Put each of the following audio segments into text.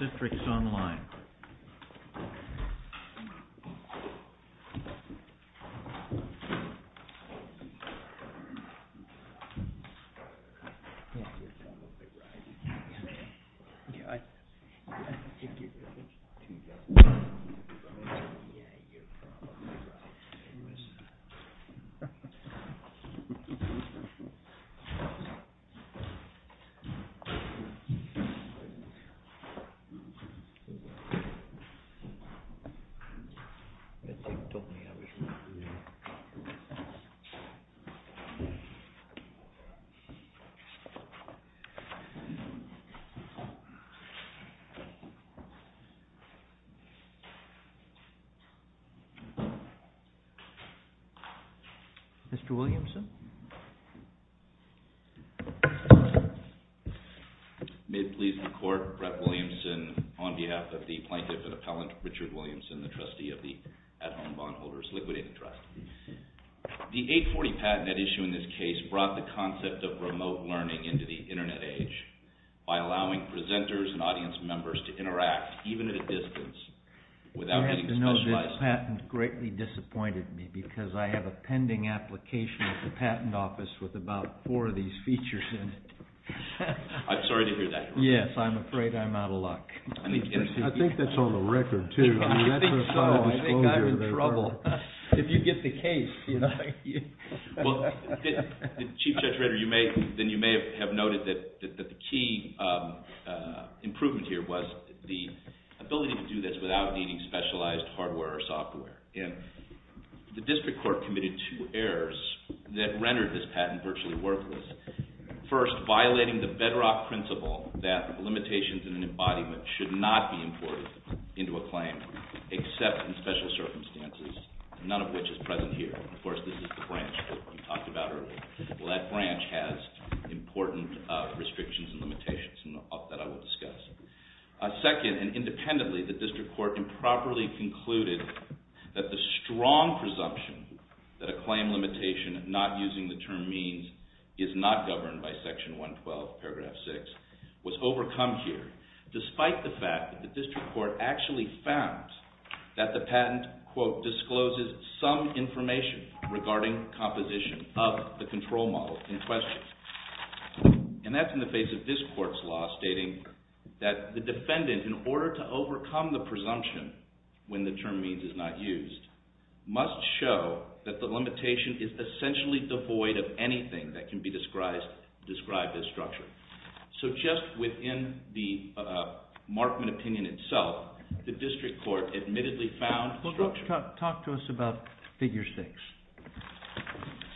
CITRIX ONLINE Mr. Williamson? May it please the Court, Brett Williamson on behalf of the Plaintiff and Appellant Richard Williamson, the trustee of the At Home Bondholders Liquidated Trust. The 840 patent at issue in this case brought the concept of remote learning into the internet age by allowing presenters and audience members to interact even at a distance without getting specialized hardware or software. This patent greatly disappointed me because I have a pending application at the Patent Office with about four of these features in it. I'm sorry to hear that. Yes, I'm afraid I'm out of luck. I think that's on the record, too. I think so. I think I'm in trouble. If you get the case, you know. Well, Chief Judge Rader, you may have noted that the key improvement here was the ability to do this without needing specialized hardware or software. And the district court committed two errors that rendered this patent virtually worthless. First, violating the bedrock principle that limitations in an embodiment should not be imported into a claim except in special circumstances, none of which is present here. Of course, this is the branch that we talked about earlier. Well, that branch has important restrictions and limitations that I will discuss. Second, and independently, the district court improperly concluded that the strong presumption that a claim limitation not using the term means is not governed by Section 112, Paragraph 6, was overcome here, despite the fact that the district court actually found that the patent, quote, discloses some information regarding composition of the control model in question. And that's in the face of this limitation, when the term means is not used, must show that the limitation is essentially devoid of anything that can be described as structure. So just within the Markman opinion itself, the district court admittedly found structure. Talk to us about Figure 6.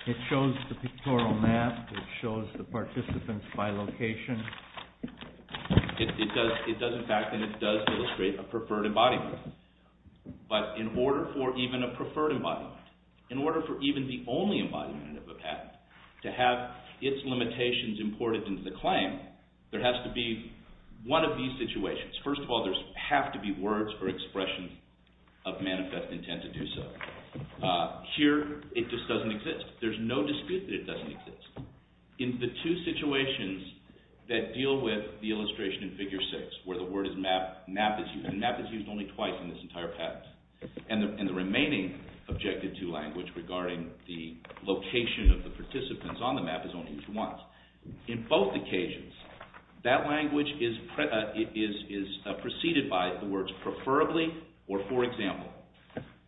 It shows the pictorial map. It shows the participants by location. It does, in fact, and it does illustrate a preferred embodiment. But in order for even a preferred embodiment, in order for even the only embodiment of a patent to have its limitations imported into the claim, there has to be one of these situations. First of all, there have to be words or expressions of manifest intent to do so. Here, it just doesn't exist. There's no dispute that it doesn't exist. In the two situations that deal with the illustration in Figure 6, where the word is map, map is used, and map is used only twice in this entire patent. And the remaining Objective 2 language regarding the location of the participants on the map is only used once. In both occasions, that language is preceded by the words preferably or for example.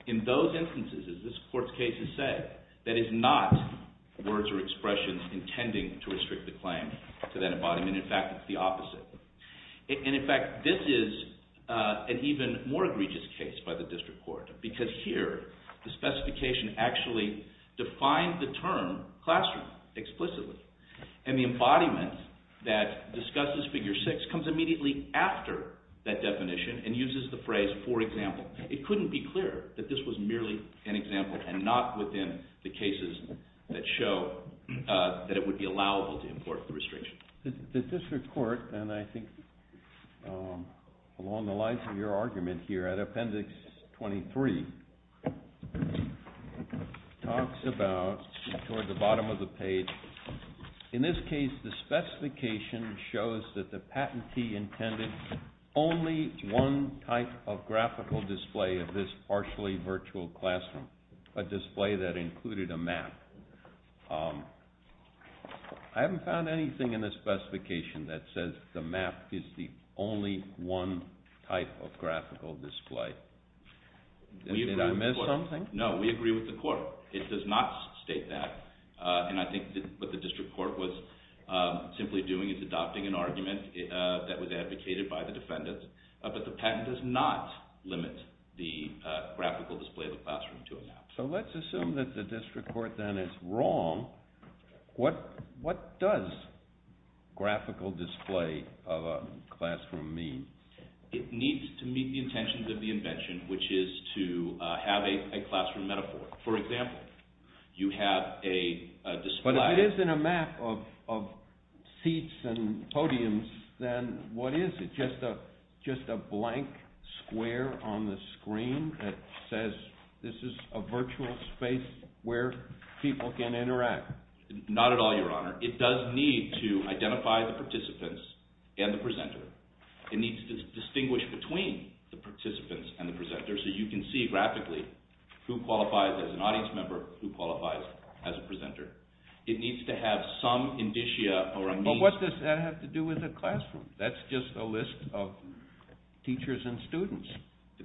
In those instances, as this court's cases say, that is not words or expressions intending to restrict the claim to that embodiment. In fact, it's the opposite. And in fact, this is an even more egregious case by the district court because here, the specification actually defined the term classroom explicitly. And the embodiment that discusses Figure 6 comes immediately after that definition and uses the phrase for example. It couldn't be clearer that this was merely an example and not within the cases that show that it would be allowable to import the restriction. The district court, and I think along the lines of your argument here at Appendix 23, talks about, toward the bottom of the page, in this case, the specification shows that the patentee intended only one type of graphical display of this partially virtual classroom, a display that included a map. I haven't found anything in the specification that says the map is the only one type of graphical display. Did I miss something? No, we agree with the court. It does not state that. And I think what the district court was simply doing is adopting an argument that was advocated by the defendants. But the patent does not limit the graphical display of the classroom to a map. So let's assume that the district court then is wrong. What does graphical display of a classroom mean? It needs to meet the intentions of the invention, which is to have a classroom metaphor. For example, you have a display... ...of seats and podiums, then what is it? Just a blank square on the screen that says this is a virtual space where people can interact? Not at all, Your Honor. It does need to identify the participants and the presenter. It needs to distinguish between the participants and the presenter, so you can see graphically who qualifies as an audience member, who qualifies as a presenter. It needs to have some indicia or a means... But what does that have to do with a classroom? That's just a list of teachers and students.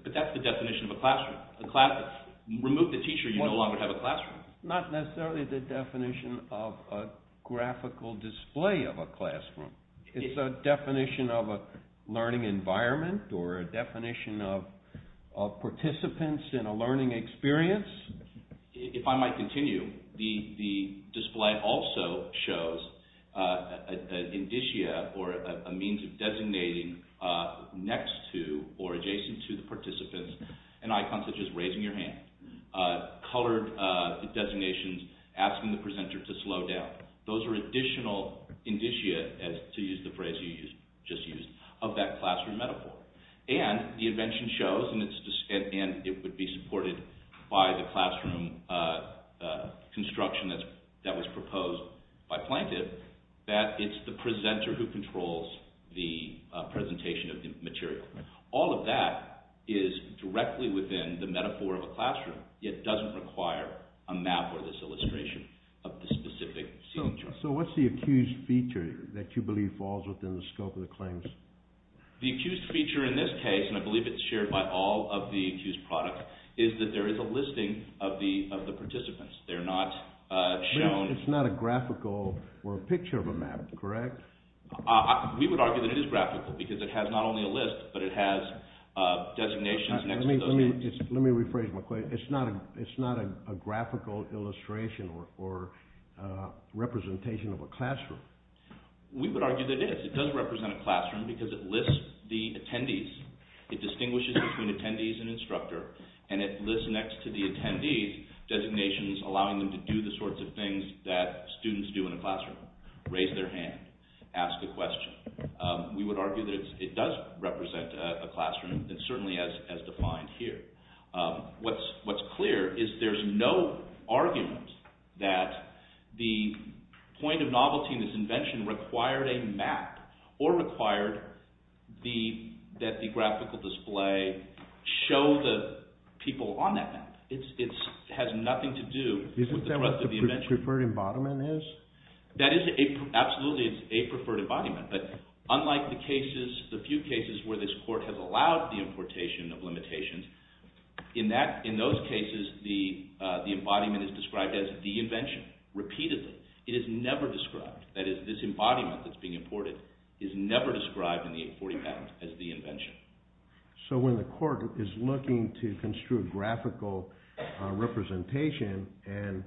But that's the definition of a classroom. Remove the teacher, you no longer have a classroom. Not necessarily the definition of a graphical display of a classroom. It's a definition of a learning environment or a definition of participants in a learning experience. If I might continue, the display also shows an indicia or a means of designating next to or adjacent to the participants an icon such as raising your hand, colored designations asking the presenter to slow down. Those are additional indicia, to use the phrase you just used, of that classroom metaphor. And the invention shows, and it would be supported by the classroom construction that was proposed by Plantev, that it's the presenter who controls the presentation of the material. All of that is directly within the metaphor of a classroom. It doesn't require a map or this illustration of the specific seating choice. So what's the accused feature that you believe falls within the scope of the claims? The accused feature in this case, and I believe it's shared by all of the accused products, is that there is a listing of the participants. They're not shown... It's not a graphical or a picture of a map, correct? We would argue that it is graphical because it has not only a list, but it has designations next to those names. Let me rephrase my question. It's not a graphical illustration or representation of a classroom? We would argue that it is. It does represent a classroom because it lists the attendees. It distinguishes between attendees and instructor, and it lists next to the attendees designations allowing them to do the sorts of things that students do in a classroom. Raise their hand, ask a question. We would argue that it does represent a classroom, and certainly as defined here. What's clear is there's no argument that the point of novelty in this invention required a map or required that the graphical display show the people on that map. It has nothing to do with the thrust of the invention. Isn't that what the preferred embodiment is? That is absolutely a preferred embodiment, but unlike the cases, the few cases where this court has allowed the importation of limitations, in those cases the embodiment is described as the invention, repeatedly. It is never described. That is, this embodiment that's being imported is never described in the 40 patents as the invention. So when the court is looking to construe a graphical representation and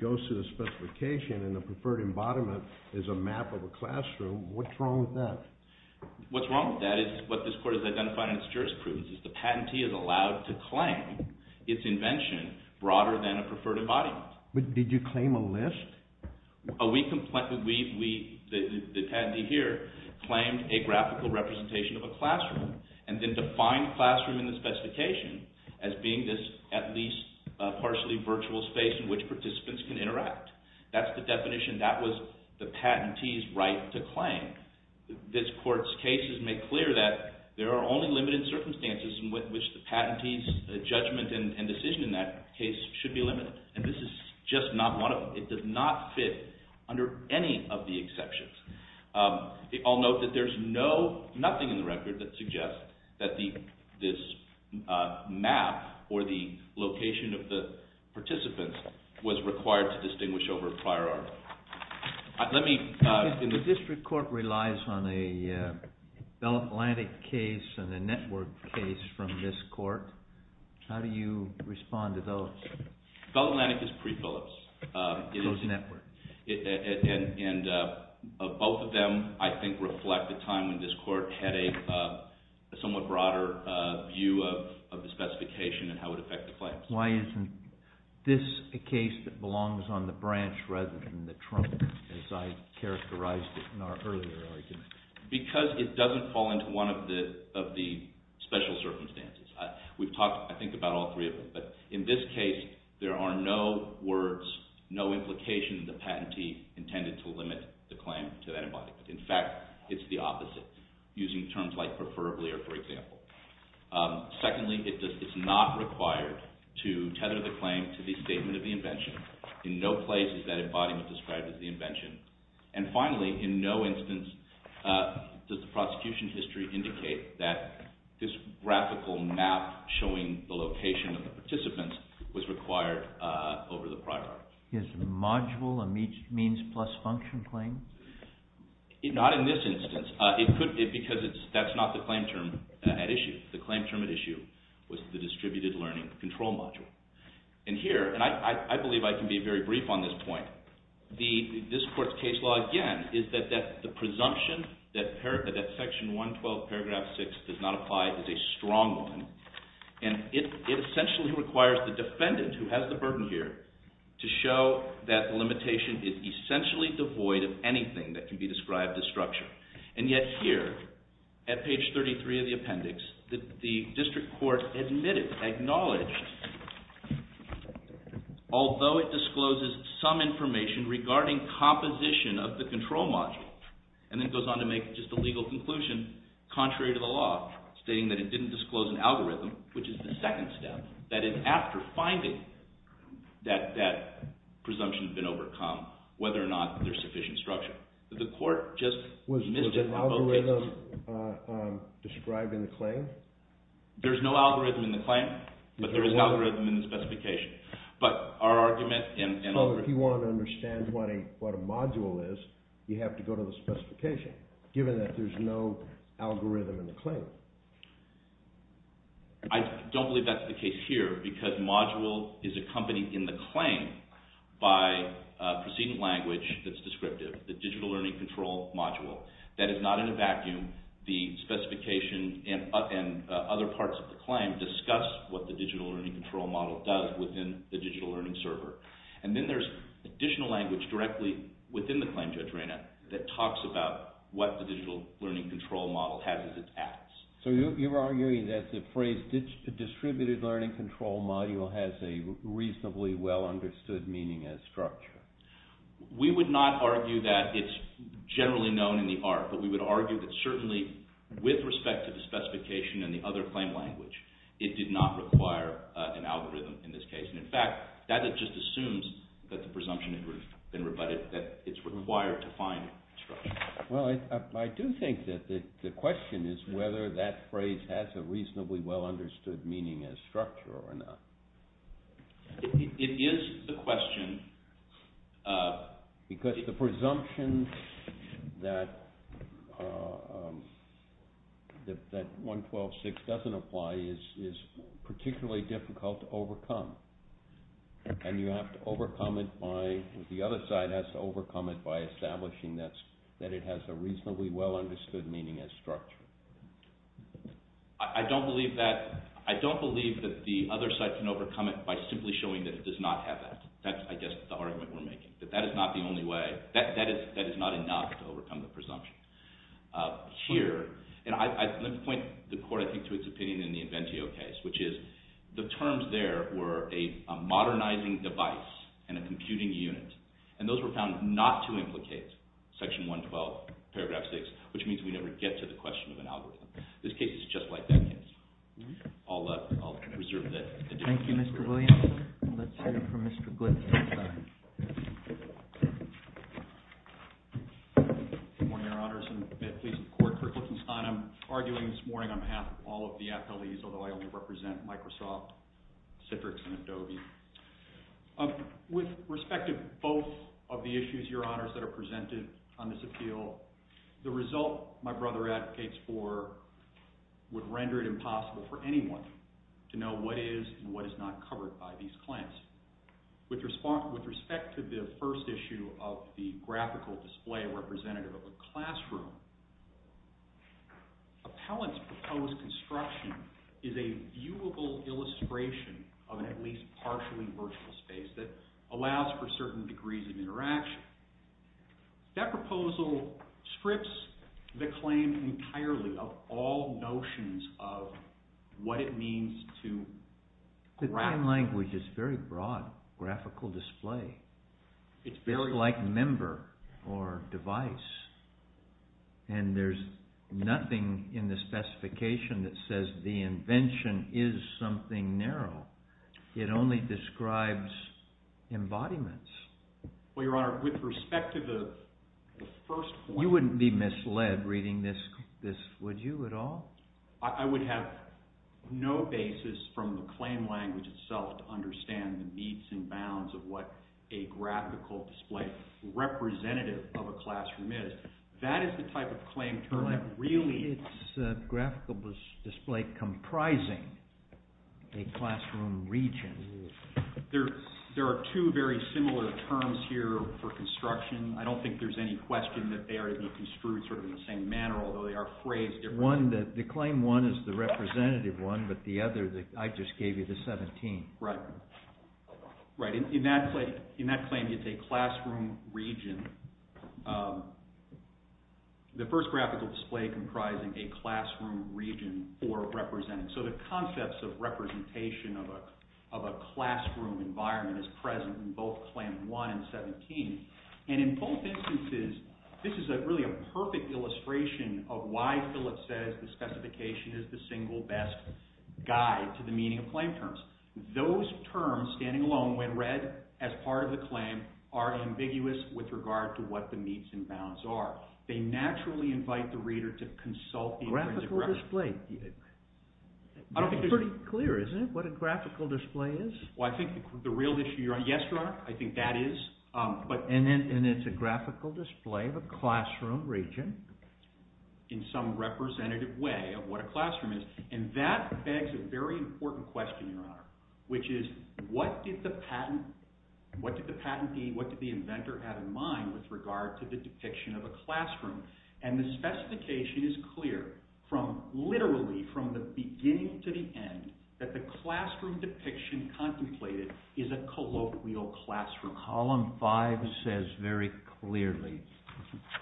goes to the specification and the preferred embodiment is a map of a classroom, what's wrong with that? What's wrong with that is what this court has identified in its jurisprudence. The patentee is allowed to claim its invention broader than a preferred embodiment. Did you claim a list? We, the patentee here, claimed a graphical representation of a classroom and then defined classroom in the specification as being this at least partially virtual space in which participants can interact. That's the definition. That was the patentee's right to claim. This court's case has made clear that there are only limited circumstances in which the patentee's judgment and decision in that case should be limited, and this is just not one of them. It does not fit under any of the exceptions. I'll note that there's nothing in the record that suggests that this map or the location of the participants was required to distinguish over a prior article. The district court relies on a Bell Atlantic case and a network case from this court. How do you respond to those? Bell Atlantic is pre-Phillips. Those network. And both of them, I think, reflect the time when this court had a somewhat broader view of the specification and how it would affect the claims. Why isn't this a case that belongs on the branch rather than the trunk, as I characterized in our earlier argument? Because it doesn't fall into one of the special circumstances. We've talked, I think, about all three of them, but in this case, there are no words, no implications of the patentee intended to limit the claim to that body. In fact, it's the opposite, using terms like to tether the claim to the statement of the invention. In no place is that body described as the invention. And finally, in no instance does the prosecution history indicate that this graphical map showing the location of the participants was required over the prior article. Is the module a means plus function claim? Not in this instance, because that's not the claim term at issue. The claim term at issue was the distributed learning control module. And here, and I believe I can be very brief on this point, this court's case law, again, is that the presumption that Section 112, Paragraph 6 does not apply is a strong one. And it essentially requires the defendant, who has the burden here, to show that the limitation is essentially devoid of anything that can be described as structure. And yet here, at page 33 of the appendix, the district court admitted, acknowledged, although it discloses some information regarding composition of the control module, and then goes on to make just a legal conclusion, contrary to the law, stating that it didn't disclose an algorithm, which is the second step, that after finding that that presumption had been overcome, whether or not there's sufficient structure. The court just missed it. Was the algorithm described in the claim? There's no algorithm in the claim, but there is an algorithm in the specification. So if you want to understand what a module is, you have to go to the specification, given that there's no algorithm in the claim. I don't believe that's the case here, because module is accompanied in the claim by preceding language that's descriptive, the digital learning control module. That is not in a vacuum. The specification and other parts of the claim discuss what the digital learning control model does within the digital learning server. And then there's additional language directly within the claim, Judge Reina, that talks about what the digital learning control model has as its apps. So you're arguing that the phrase distributed learning control module has a reasonably well understood meaning as structure. We would not argue that it's generally known in the art, but we would argue that certainly with respect to the specification and the other claim language, it did not require an algorithm in this case. And in fact, that just assumes that the presumption has been rebutted, that it's required to find structure. Well, I do think that the question is whether that phrase has a reasonably well understood meaning as structure or not. It is the question. Because the presumption that 112.6 doesn't apply is particularly difficult to overcome. And you have to overcome it by, the other side has to overcome it by establishing that it has a reasonably well understood meaning as structure. I don't believe that the other side can overcome it by simply showing that it does not have that. That's, I guess, the argument we're making. That that is not the only way. That is not enough to overcome the presumption. Here, and I point the court, I think, to its opinion in the Inventeo case, which is the terms there were a modernizing device and a computing unit. And those were found not to implicate section 112, paragraph 6, which means we never get to the question of an algorithm. This case is just like that case. I'll reserve that. Thank you, Mr. Williams. Let's hear from Mr. Glickenstein. Good morning, Your Honors, and may it please the Court, for Glickenstein. I'm arguing this morning on behalf of all of the athletes, although I only represent Microsoft, Citrix, and Adobe. With respect to both of the issues, Your Honors, that are presented on this appeal, the result my brother advocates for would render it impossible for anyone to know what is and what is not covered by these claims. With respect to the first issue of the graphical display representative of a classroom, appellant's proposed construction is a viewable illustration of an at least partially virtual space that allows for certain degrees of interaction. That proposal strips the claim entirely of all notions of what it means to graph. The time language is very broad. Graphical display. It's very broad. It's like member or device. And there's nothing in the specification that says the invention is something narrow. It only describes embodiments. Well, Your Honor, with respect to the first point... You wouldn't be misled reading this, would you, at all? I would have no basis from the claim language itself to understand the needs and bounds of what a graphical display representative of a classroom is. That is the type of claim term that really... Well, it's a graphical display comprising a classroom region. There are two very similar terms here for construction. I don't think there's any question that they are being construed sort of in the same manner, although they are phrased differently. The claim one is the representative one, but the other, I just gave you the 17. Right. Right. In that claim, it's a classroom region. The first graphical display comprising a classroom region for representing... So the concepts of representation of a classroom environment is present in both Claim 1 and 17. And in both instances, this is really a perfect illustration of why Phillips says the specification is the single best guide to the meaning of claim terms. Those terms, standing alone, when read as part of the claim, are ambiguous with regard to what the needs and bounds are. They naturally invite the reader to consult... Graphical display. It's pretty clear, isn't it, what a graphical display is? Well, I think the real issue... Yes, Your Honor, I think that is. And it's a graphical display of a classroom region? In some representative way of what a classroom is. And that begs a very important question, Your Honor, which is what did the patentee, what did the inventor have in mind with regard to the depiction of a classroom? And the specification is clear, literally from the beginning to the end, that the classroom depiction contemplated is a colloquial classroom. Column 5 says very clearly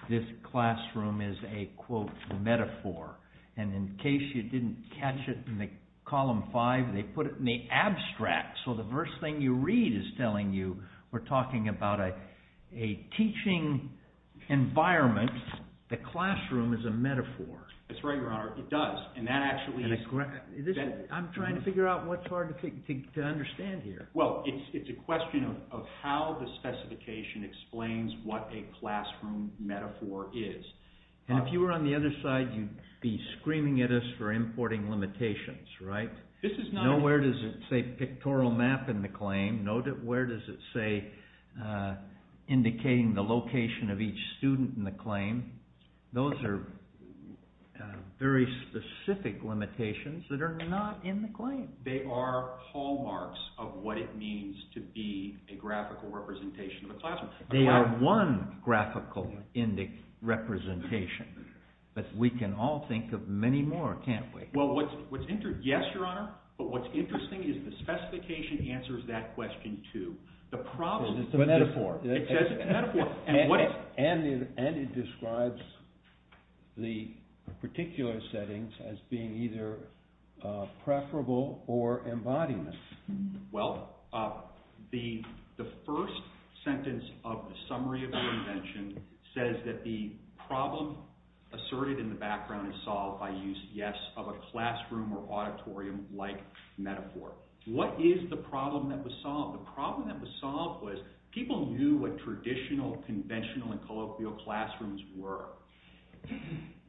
this classroom is a, quote, metaphor. And in case you didn't catch it in Column 5, they put it in the abstract. So the first thing you read is telling you we're talking about a teaching environment and the classroom is a metaphor. That's right, Your Honor, it does. And that actually is... I'm trying to figure out what's hard to understand here. Well, it's a question of how the specification explains what a classroom metaphor is. And if you were on the other side, you'd be screaming at us for importing limitations, right? This is not... Nowhere does it say pictorial map in the claim. Where does it say indicating the location of each student in the claim? Those are very specific limitations that are not in the claim. They are hallmarks of what it means to be a graphical representation of a classroom. They are one graphical representation, but we can all think of many more, can't we? Well, yes, Your Honor, but what's interesting is the specification answers that question too. It's a metaphor. It says it's a metaphor. And it describes the particular settings as being either preferable or embodiment. Well, the first sentence of the summary of the invention says that the problem asserted in the background is solved by use, yes, of a classroom or auditorium-like metaphor. What is the problem that was solved? The problem that was solved was people knew what traditional, conventional, and colloquial classrooms were.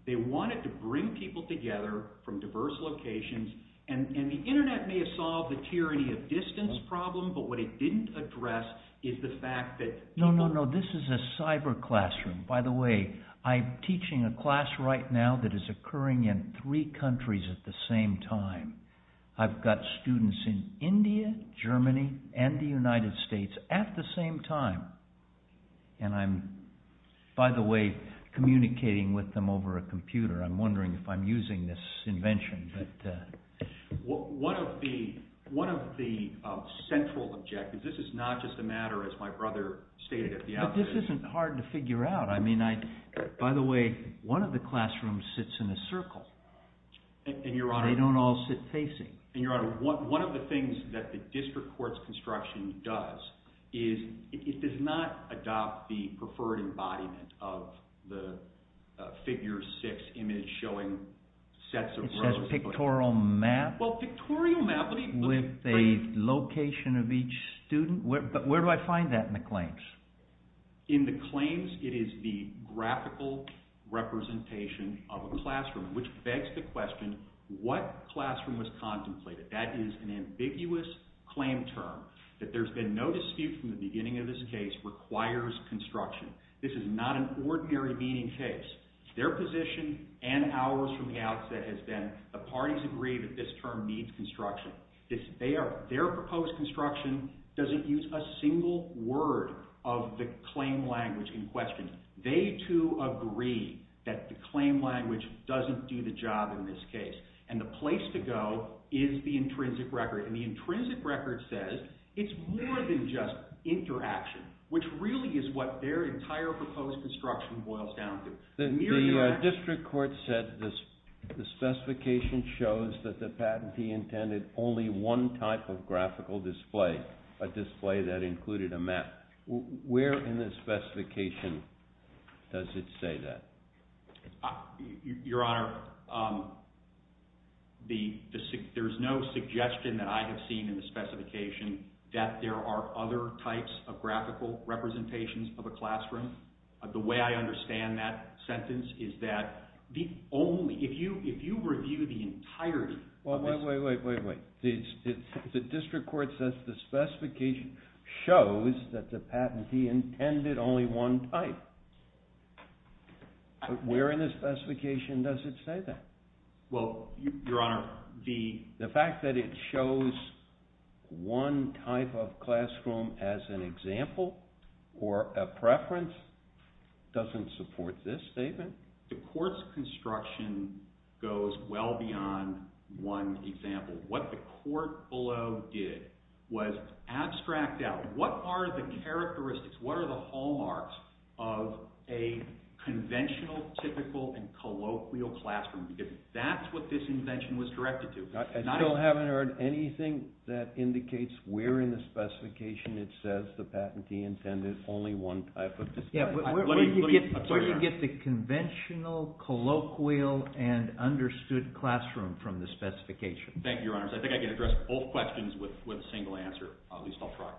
They wanted to bring people together from diverse locations, and the Internet may have solved the tyranny of distance problem, but what it didn't address is the fact that people... No, no, no, this is a cyber classroom. By the way, I'm teaching a class right now that is occurring in three countries at the same time. I've got students in India, Germany, and the United States at the same time, and I'm, by the way, communicating with them over a computer. I'm wondering if I'm using this invention, but... One of the central objectives, this is not just a matter, as my brother stated at the outset... This isn't hard to figure out. By the way, one of the classrooms sits in a circle. They don't all sit facing. Your Honor, one of the things that the district court's construction does is it does not adopt the preferred embodiment of the figure six image showing sets of rows... It says pictorial map... Well, pictorial map... With a location of each student, but where do I find that in the claims? In the claims, it is the graphical representation of a classroom, which begs the question, what classroom was contemplated? That is an ambiguous claim term. That there's been no dispute from the beginning of this case requires construction. This is not an ordinary meeting case. Their position and ours from the outset has been the parties agree that this term needs construction. Their proposed construction doesn't use a single word of the claim language in question. They, too, agree that the claim language doesn't do the job in this case. And the place to go is the intrinsic record. And the intrinsic record says it's more than just interaction, which really is what their entire proposed construction boils down to. The district court said the specification shows that the patentee intended only one type of graphical display, a display that included a map. Where in the specification does it say that? Your Honor, there's no suggestion that I have seen in the specification that there are other types of graphical representations of a classroom. The way I understand that sentence is that if you review the entirety of this... Wait, wait, wait, wait, wait. The district court says the specification shows that the patentee intended only one type. Where in the specification does it say that? Well, Your Honor, the... doesn't support this statement. The court's construction goes well beyond one example. What the court below did was abstract out what are the characteristics, what are the hallmarks of a conventional, typical, and colloquial classroom. If that's what this invention was directed to... I still haven't heard anything that indicates where in the specification it says the patentee intended only one type of display. Where do you get the conventional, colloquial, and understood classroom from the specification? Thank you, Your Honor. I think I can address both questions with a single answer, at least I'll try.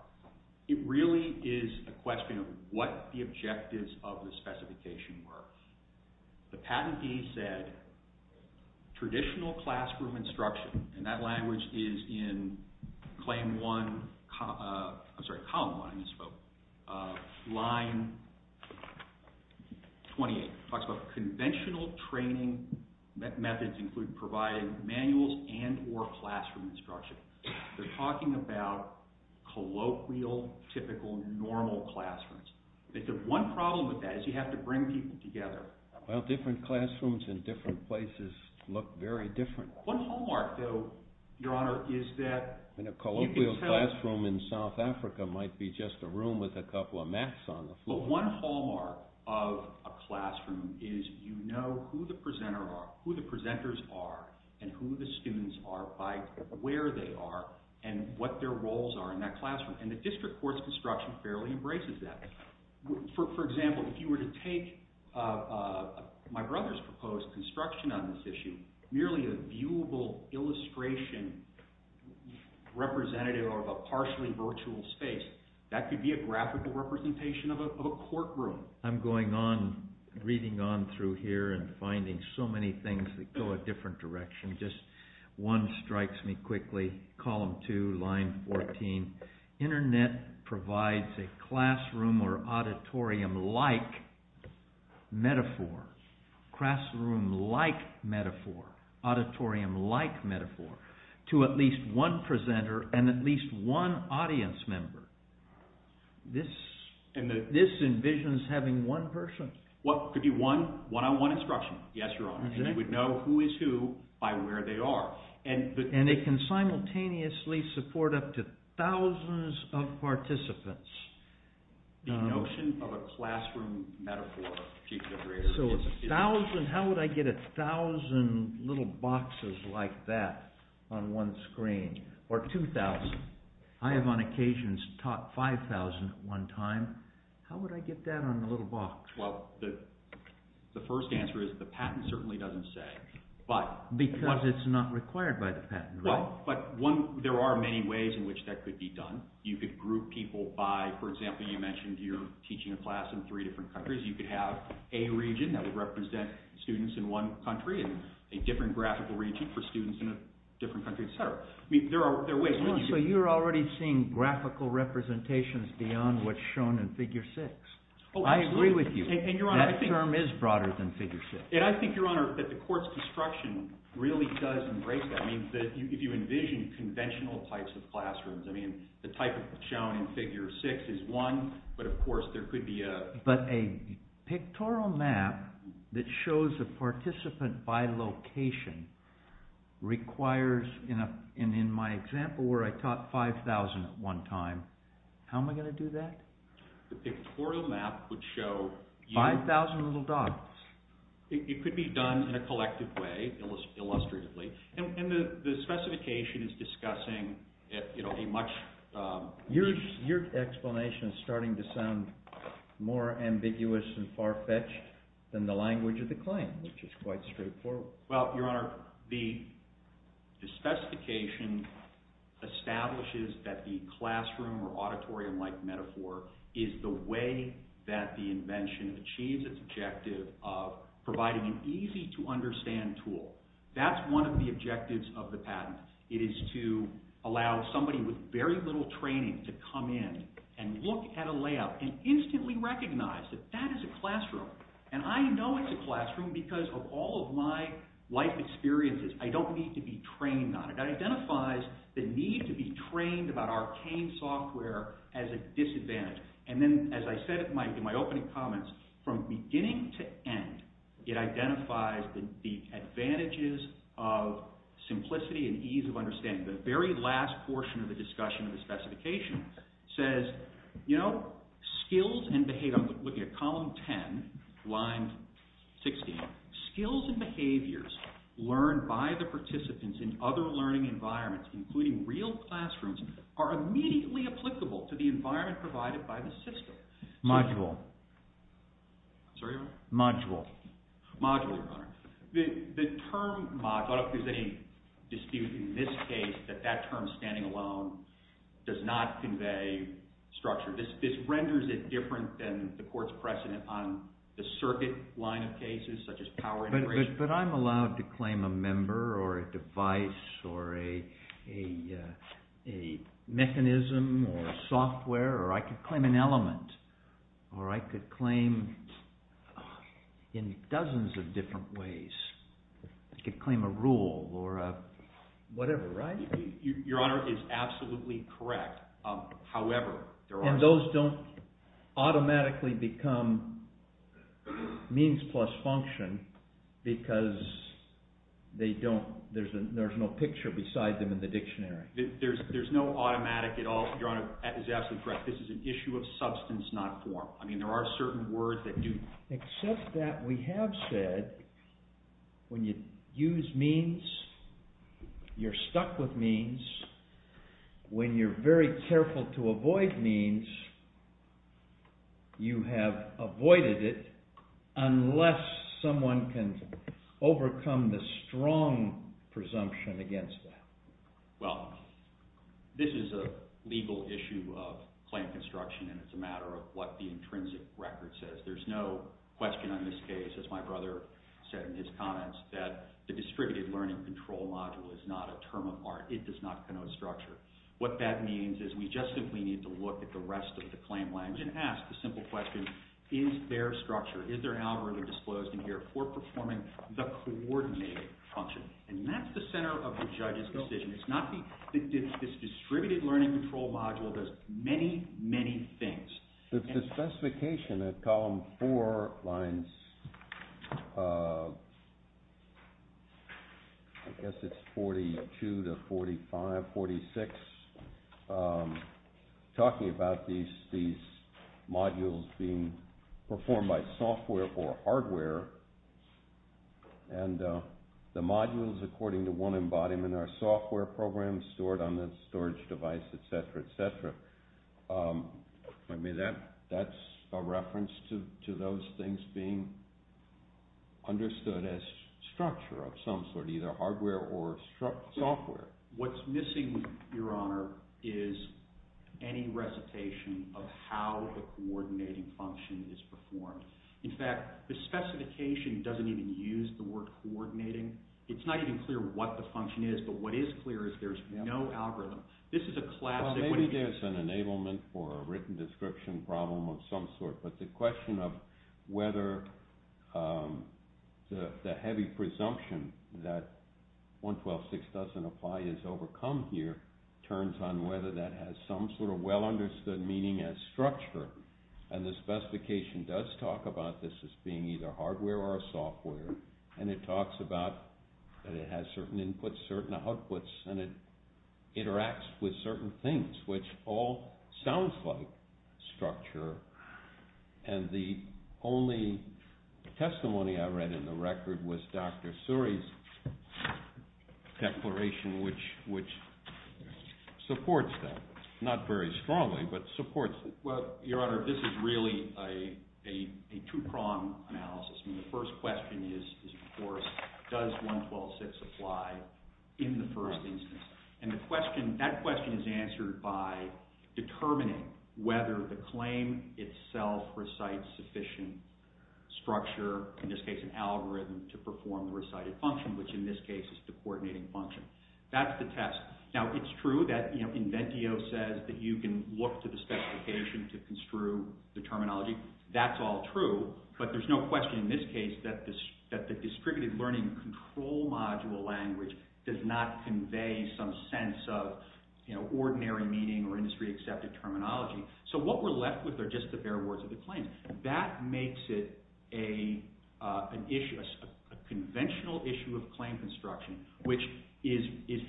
It really is a question of what the objectives of the specification were. The patentee said traditional classroom instruction, and that language is in claim one, I'm sorry, column one, I misspoke, line 28. It talks about conventional training methods include providing manuals and or classroom instruction. They're talking about colloquial, typical, normal classrooms. The one problem with that is you have to bring people together. Well, different classrooms in different places look very different. One hallmark, though, Your Honor, is that... In a colloquial classroom in South Africa might be just a room with a couple of mats on the floor. But one hallmark of a classroom is you know who the presenter are, who the presenters are, and who the students are by where they are, and what their roles are in that classroom, and the district course construction fairly embraces that. For example, if you were to take my brother's proposed construction on this issue, and make it merely a viewable illustration representative of a partially virtual space, that could be a graphical representation of a courtroom. I'm going on, reading on through here and finding so many things that go a different direction. Just one strikes me quickly, column two, line 14. Internet provides a classroom or auditorium-like metaphor. Classroom-like metaphor. Auditorium-like metaphor. To at least one presenter and at least one audience member. This envisions having one person. What, could be one? One-on-one instruction. Yes, Your Honor. And they would know who is who by where they are. And it can simultaneously support up to thousands of participants. The notion of a classroom metaphor. So a thousand, how would I get a thousand little boxes like that on one screen? Or 2,000. I have on occasions taught 5,000 at one time. How would I get that on a little box? Well, the first answer is the patent certainly doesn't say. Because it's not required by the patent, right? But there are many ways in which that could be done. You could group people by, for example, you mentioned you're teaching a class in three different countries. You could have a region that would represent students in one country and a different graphical region for students in a different country, etc. So you're already seeing graphical representations beyond what's shown in figure six. I agree with you. That term is broader than figure six. And I think, Your Honor, that the court's construction really does embrace that. I mean, if you envision conventional types of classrooms, I mean, the type shown in figure six is one. But, of course, there could be a… But a pictorial map that shows a participant by location requires, in my example where I taught 5,000 at one time, how am I going to do that? The pictorial map would show… 5,000 little dots. It could be done in a collective way, illustratively. And the specification is discussing a much… Your explanation is starting to sound more ambiguous and far-fetched than the language of the claim, which is quite straightforward. Well, Your Honor, the specification establishes that the classroom or auditorium-like metaphor is the way that the invention achieves its objective of providing an easy-to-understand tool. That's one of the objectives of the patent. It is to allow somebody with very little training to come in and look at a layout and instantly recognize that that is a classroom. And I know it's a classroom because of all of my life experiences. I don't need to be trained on it. That identifies the need to be trained about arcane software as a disadvantage. And then, as I said in my opening comments, from beginning to end, it identifies the advantages of simplicity and ease of understanding. The very last portion of the discussion of the specification says, you know, skills and behavior… I'm looking at column 10, line 16. Skills and behaviors learned by the participants in other learning environments, including real classrooms, are immediately applicable to the environment provided by the system. Module. Sorry, Your Honor? Module. Module, Your Honor. The term module, I don't think there's any dispute in this case that that term, standing alone, does not convey structure. This renders it different than the court's precedent on the circuit line of cases, such as power integration. But I'm allowed to claim a member or a device or a mechanism or a software, or I could claim an element, or I could claim in dozens of different ways. I could claim a rule or a whatever, right? Your Honor is absolutely correct. And those don't automatically become means plus function because there's no picture beside them in the dictionary. There's no automatic at all. Your Honor is absolutely correct. This is an issue of substance, not form. I mean, there are certain words that do. Except that we have said when you use means, you're stuck with means. When you're very careful to avoid means, you have avoided it unless someone can overcome the strong presumption against that. Well, this is a legal issue of claim construction, and it's a matter of what the intrinsic record says. There's no question on this case, as my brother said in his comments, that the distributed learning control module is not a term of art. It does not connote structure. What that means is we just simply need to look at the rest of the claim language and ask the simple question, is there structure? Is there an algorithm disclosed in here for performing the coordinated function? And that's the center of the judge's decision. It's not the – this distributed learning control module does many, many things. The specification at column four lines – I guess it's 42 to 45, 46 – talking about these modules being performed by software or hardware, and the modules, according to one embodiment, are software programs stored on the storage device, et cetera, et cetera. I mean, that's a reference to those things being understood as structure of some sort, either hardware or software. What's missing, Your Honor, is any recitation of how the coordinating function is performed. In fact, the specification doesn't even use the word coordinating. It's not even clear what the function is, but what is clear is there's no algorithm. Well, maybe there's an enablement for a written description problem of some sort, but the question of whether the heavy presumption that 112.6 doesn't apply is overcome here turns on whether that has some sort of well-understood meaning as structure. And the specification does talk about this as being either hardware or software, and it talks about that it has certain inputs, certain outputs, and it interacts with certain things, which all sounds like structure, and the only testimony I read in the record was Dr. Suri's declaration, which supports that, not very strongly, but supports it. Well, Your Honor, this is really a two-prong analysis. The first question is, of course, does 112.6 apply in the first instance? And that question is answered by determining whether the claim itself recites sufficient structure, in this case an algorithm, to perform the recited function, which in this case is the coordinating function. That's the test. Now, it's true that Inventio says that you can look to the specification to construe the terminology. That's all true, but there's no question in this case that the distributed learning control module language does not convey some sense of ordinary meaning or industry-accepted terminology. So what we're left with are just the bare words of the claim. That makes it an issue, a conventional issue of claim construction, which is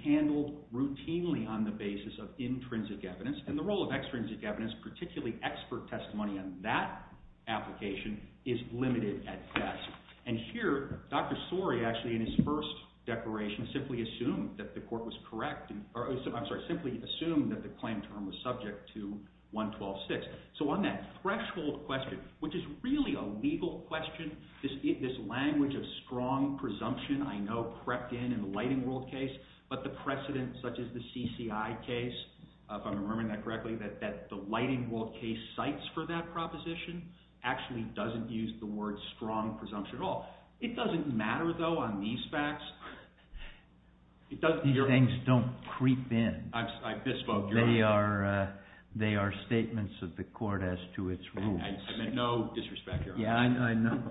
handled routinely on the basis of intrinsic evidence, and the role of extrinsic evidence, particularly expert testimony on that application, is limited at best. And here, Dr. Sori, actually, in his first declaration, simply assumed that the court was correct, or I'm sorry, simply assumed that the claim term was subject to 112.6. So on that threshold question, which is really a legal question, this language of strong presumption, I know, crept in in the Lighting World case, but the precedent such as the CCI case, if I'm remembering that correctly, that the Lighting World case cites for that proposition actually doesn't use the word strong presumption at all. It doesn't matter, though, on these facts. These things don't creep in. I misspoke. They are statements of the court as to its rules. I meant no disrespect, Your Honor.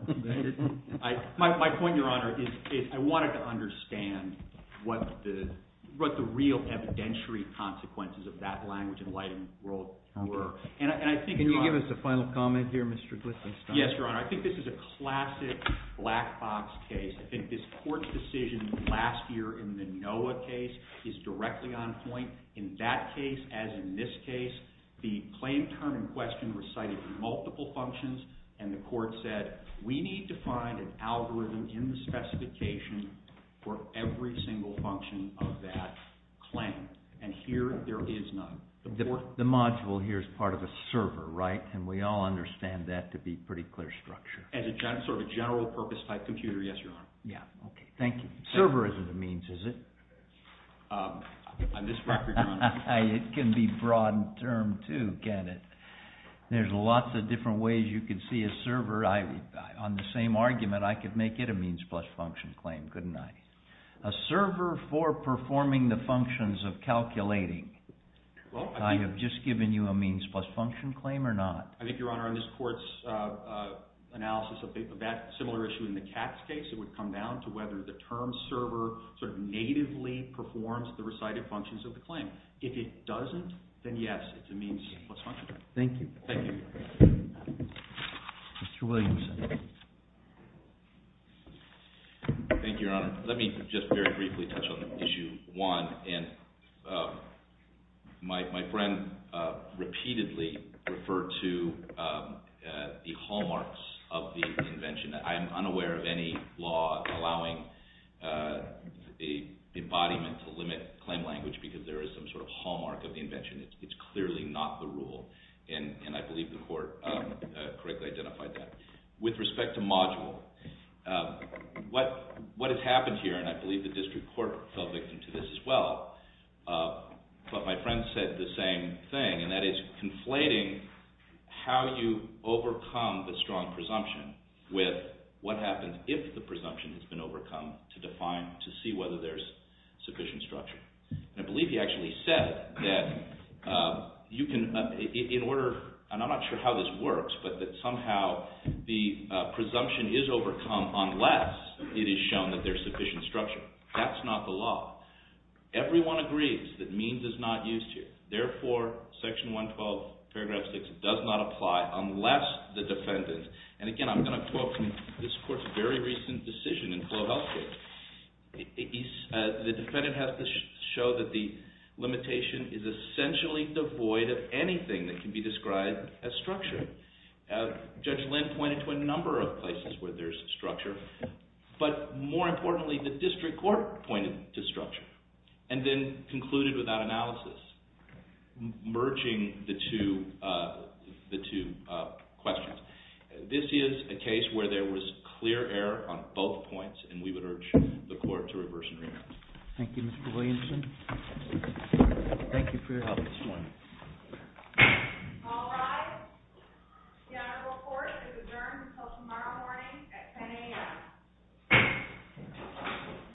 Yeah, I know. My point, Your Honor, is I wanted to understand what the real evidentiary consequences of that language in the Lighting World were. Can you give us a final comment here, Mr. Glickenstein? Yes, Your Honor. I think this is a classic black box case. I think this court's decision last year in the Noah case is directly on point. In that case, as in this case, the claim term in question recited multiple functions, and the court said we need to find an algorithm in the specification for every single function of that claim. And here there is none. The module here is part of a server, right? And we all understand that to be pretty clear structure. As sort of a general purpose type computer, yes, Your Honor. Yeah, okay, thank you. Server isn't a means, is it? On this record, Your Honor. It can be broadened term, too, can it? There's lots of different ways you can see a server. On the same argument, I could make it a means plus function claim, couldn't I? A server for performing the functions of calculating. I have just given you a means plus function claim or not? I think, Your Honor, in this court's analysis of that similar issue in the Katz case, it would come down to whether the term server sort of natively performs the recited functions of the claim. If it doesn't, then yes, it's a means plus function. Thank you. Thank you. Mr. Williams. Thank you, Your Honor. Let me just very briefly touch on issue one. And my friend repeatedly referred to the hallmarks of the invention. I am unaware of any law allowing the embodiment to limit claim language because there is some sort of hallmark of the invention. It's clearly not the rule, and I believe the court correctly identified that. With respect to module, what has happened here, and I believe the district court fell victim to this as well, but my friend said the same thing, and that is conflating how you overcome the strong presumption with what happens if the presumption has been overcome to define, to see whether there's sufficient structure. And I believe he actually said that you can, in order, and I'm not sure how this works, but that somehow the presumption is overcome unless it is shown that there's sufficient structure. That's not the law. Everyone agrees that means is not used here. Therefore, Section 112, Paragraph 6 does not apply unless the defendant, and again, I'm going to quote this court's very recent decision in Clovell case. The defendant has to show that the limitation is essentially devoid of anything that can be described as structure. Judge Lynn pointed to a number of places where there's structure, but more importantly, the district court pointed to structure and then concluded with that analysis, merging the two questions. This is a case where there was clear error on both points, and we would urge the court to reverse and remand. Thank you, Mr. Williamson. Thank you for your help this morning. All rise. The honorable court is adjourned until tomorrow morning at 10 a.m.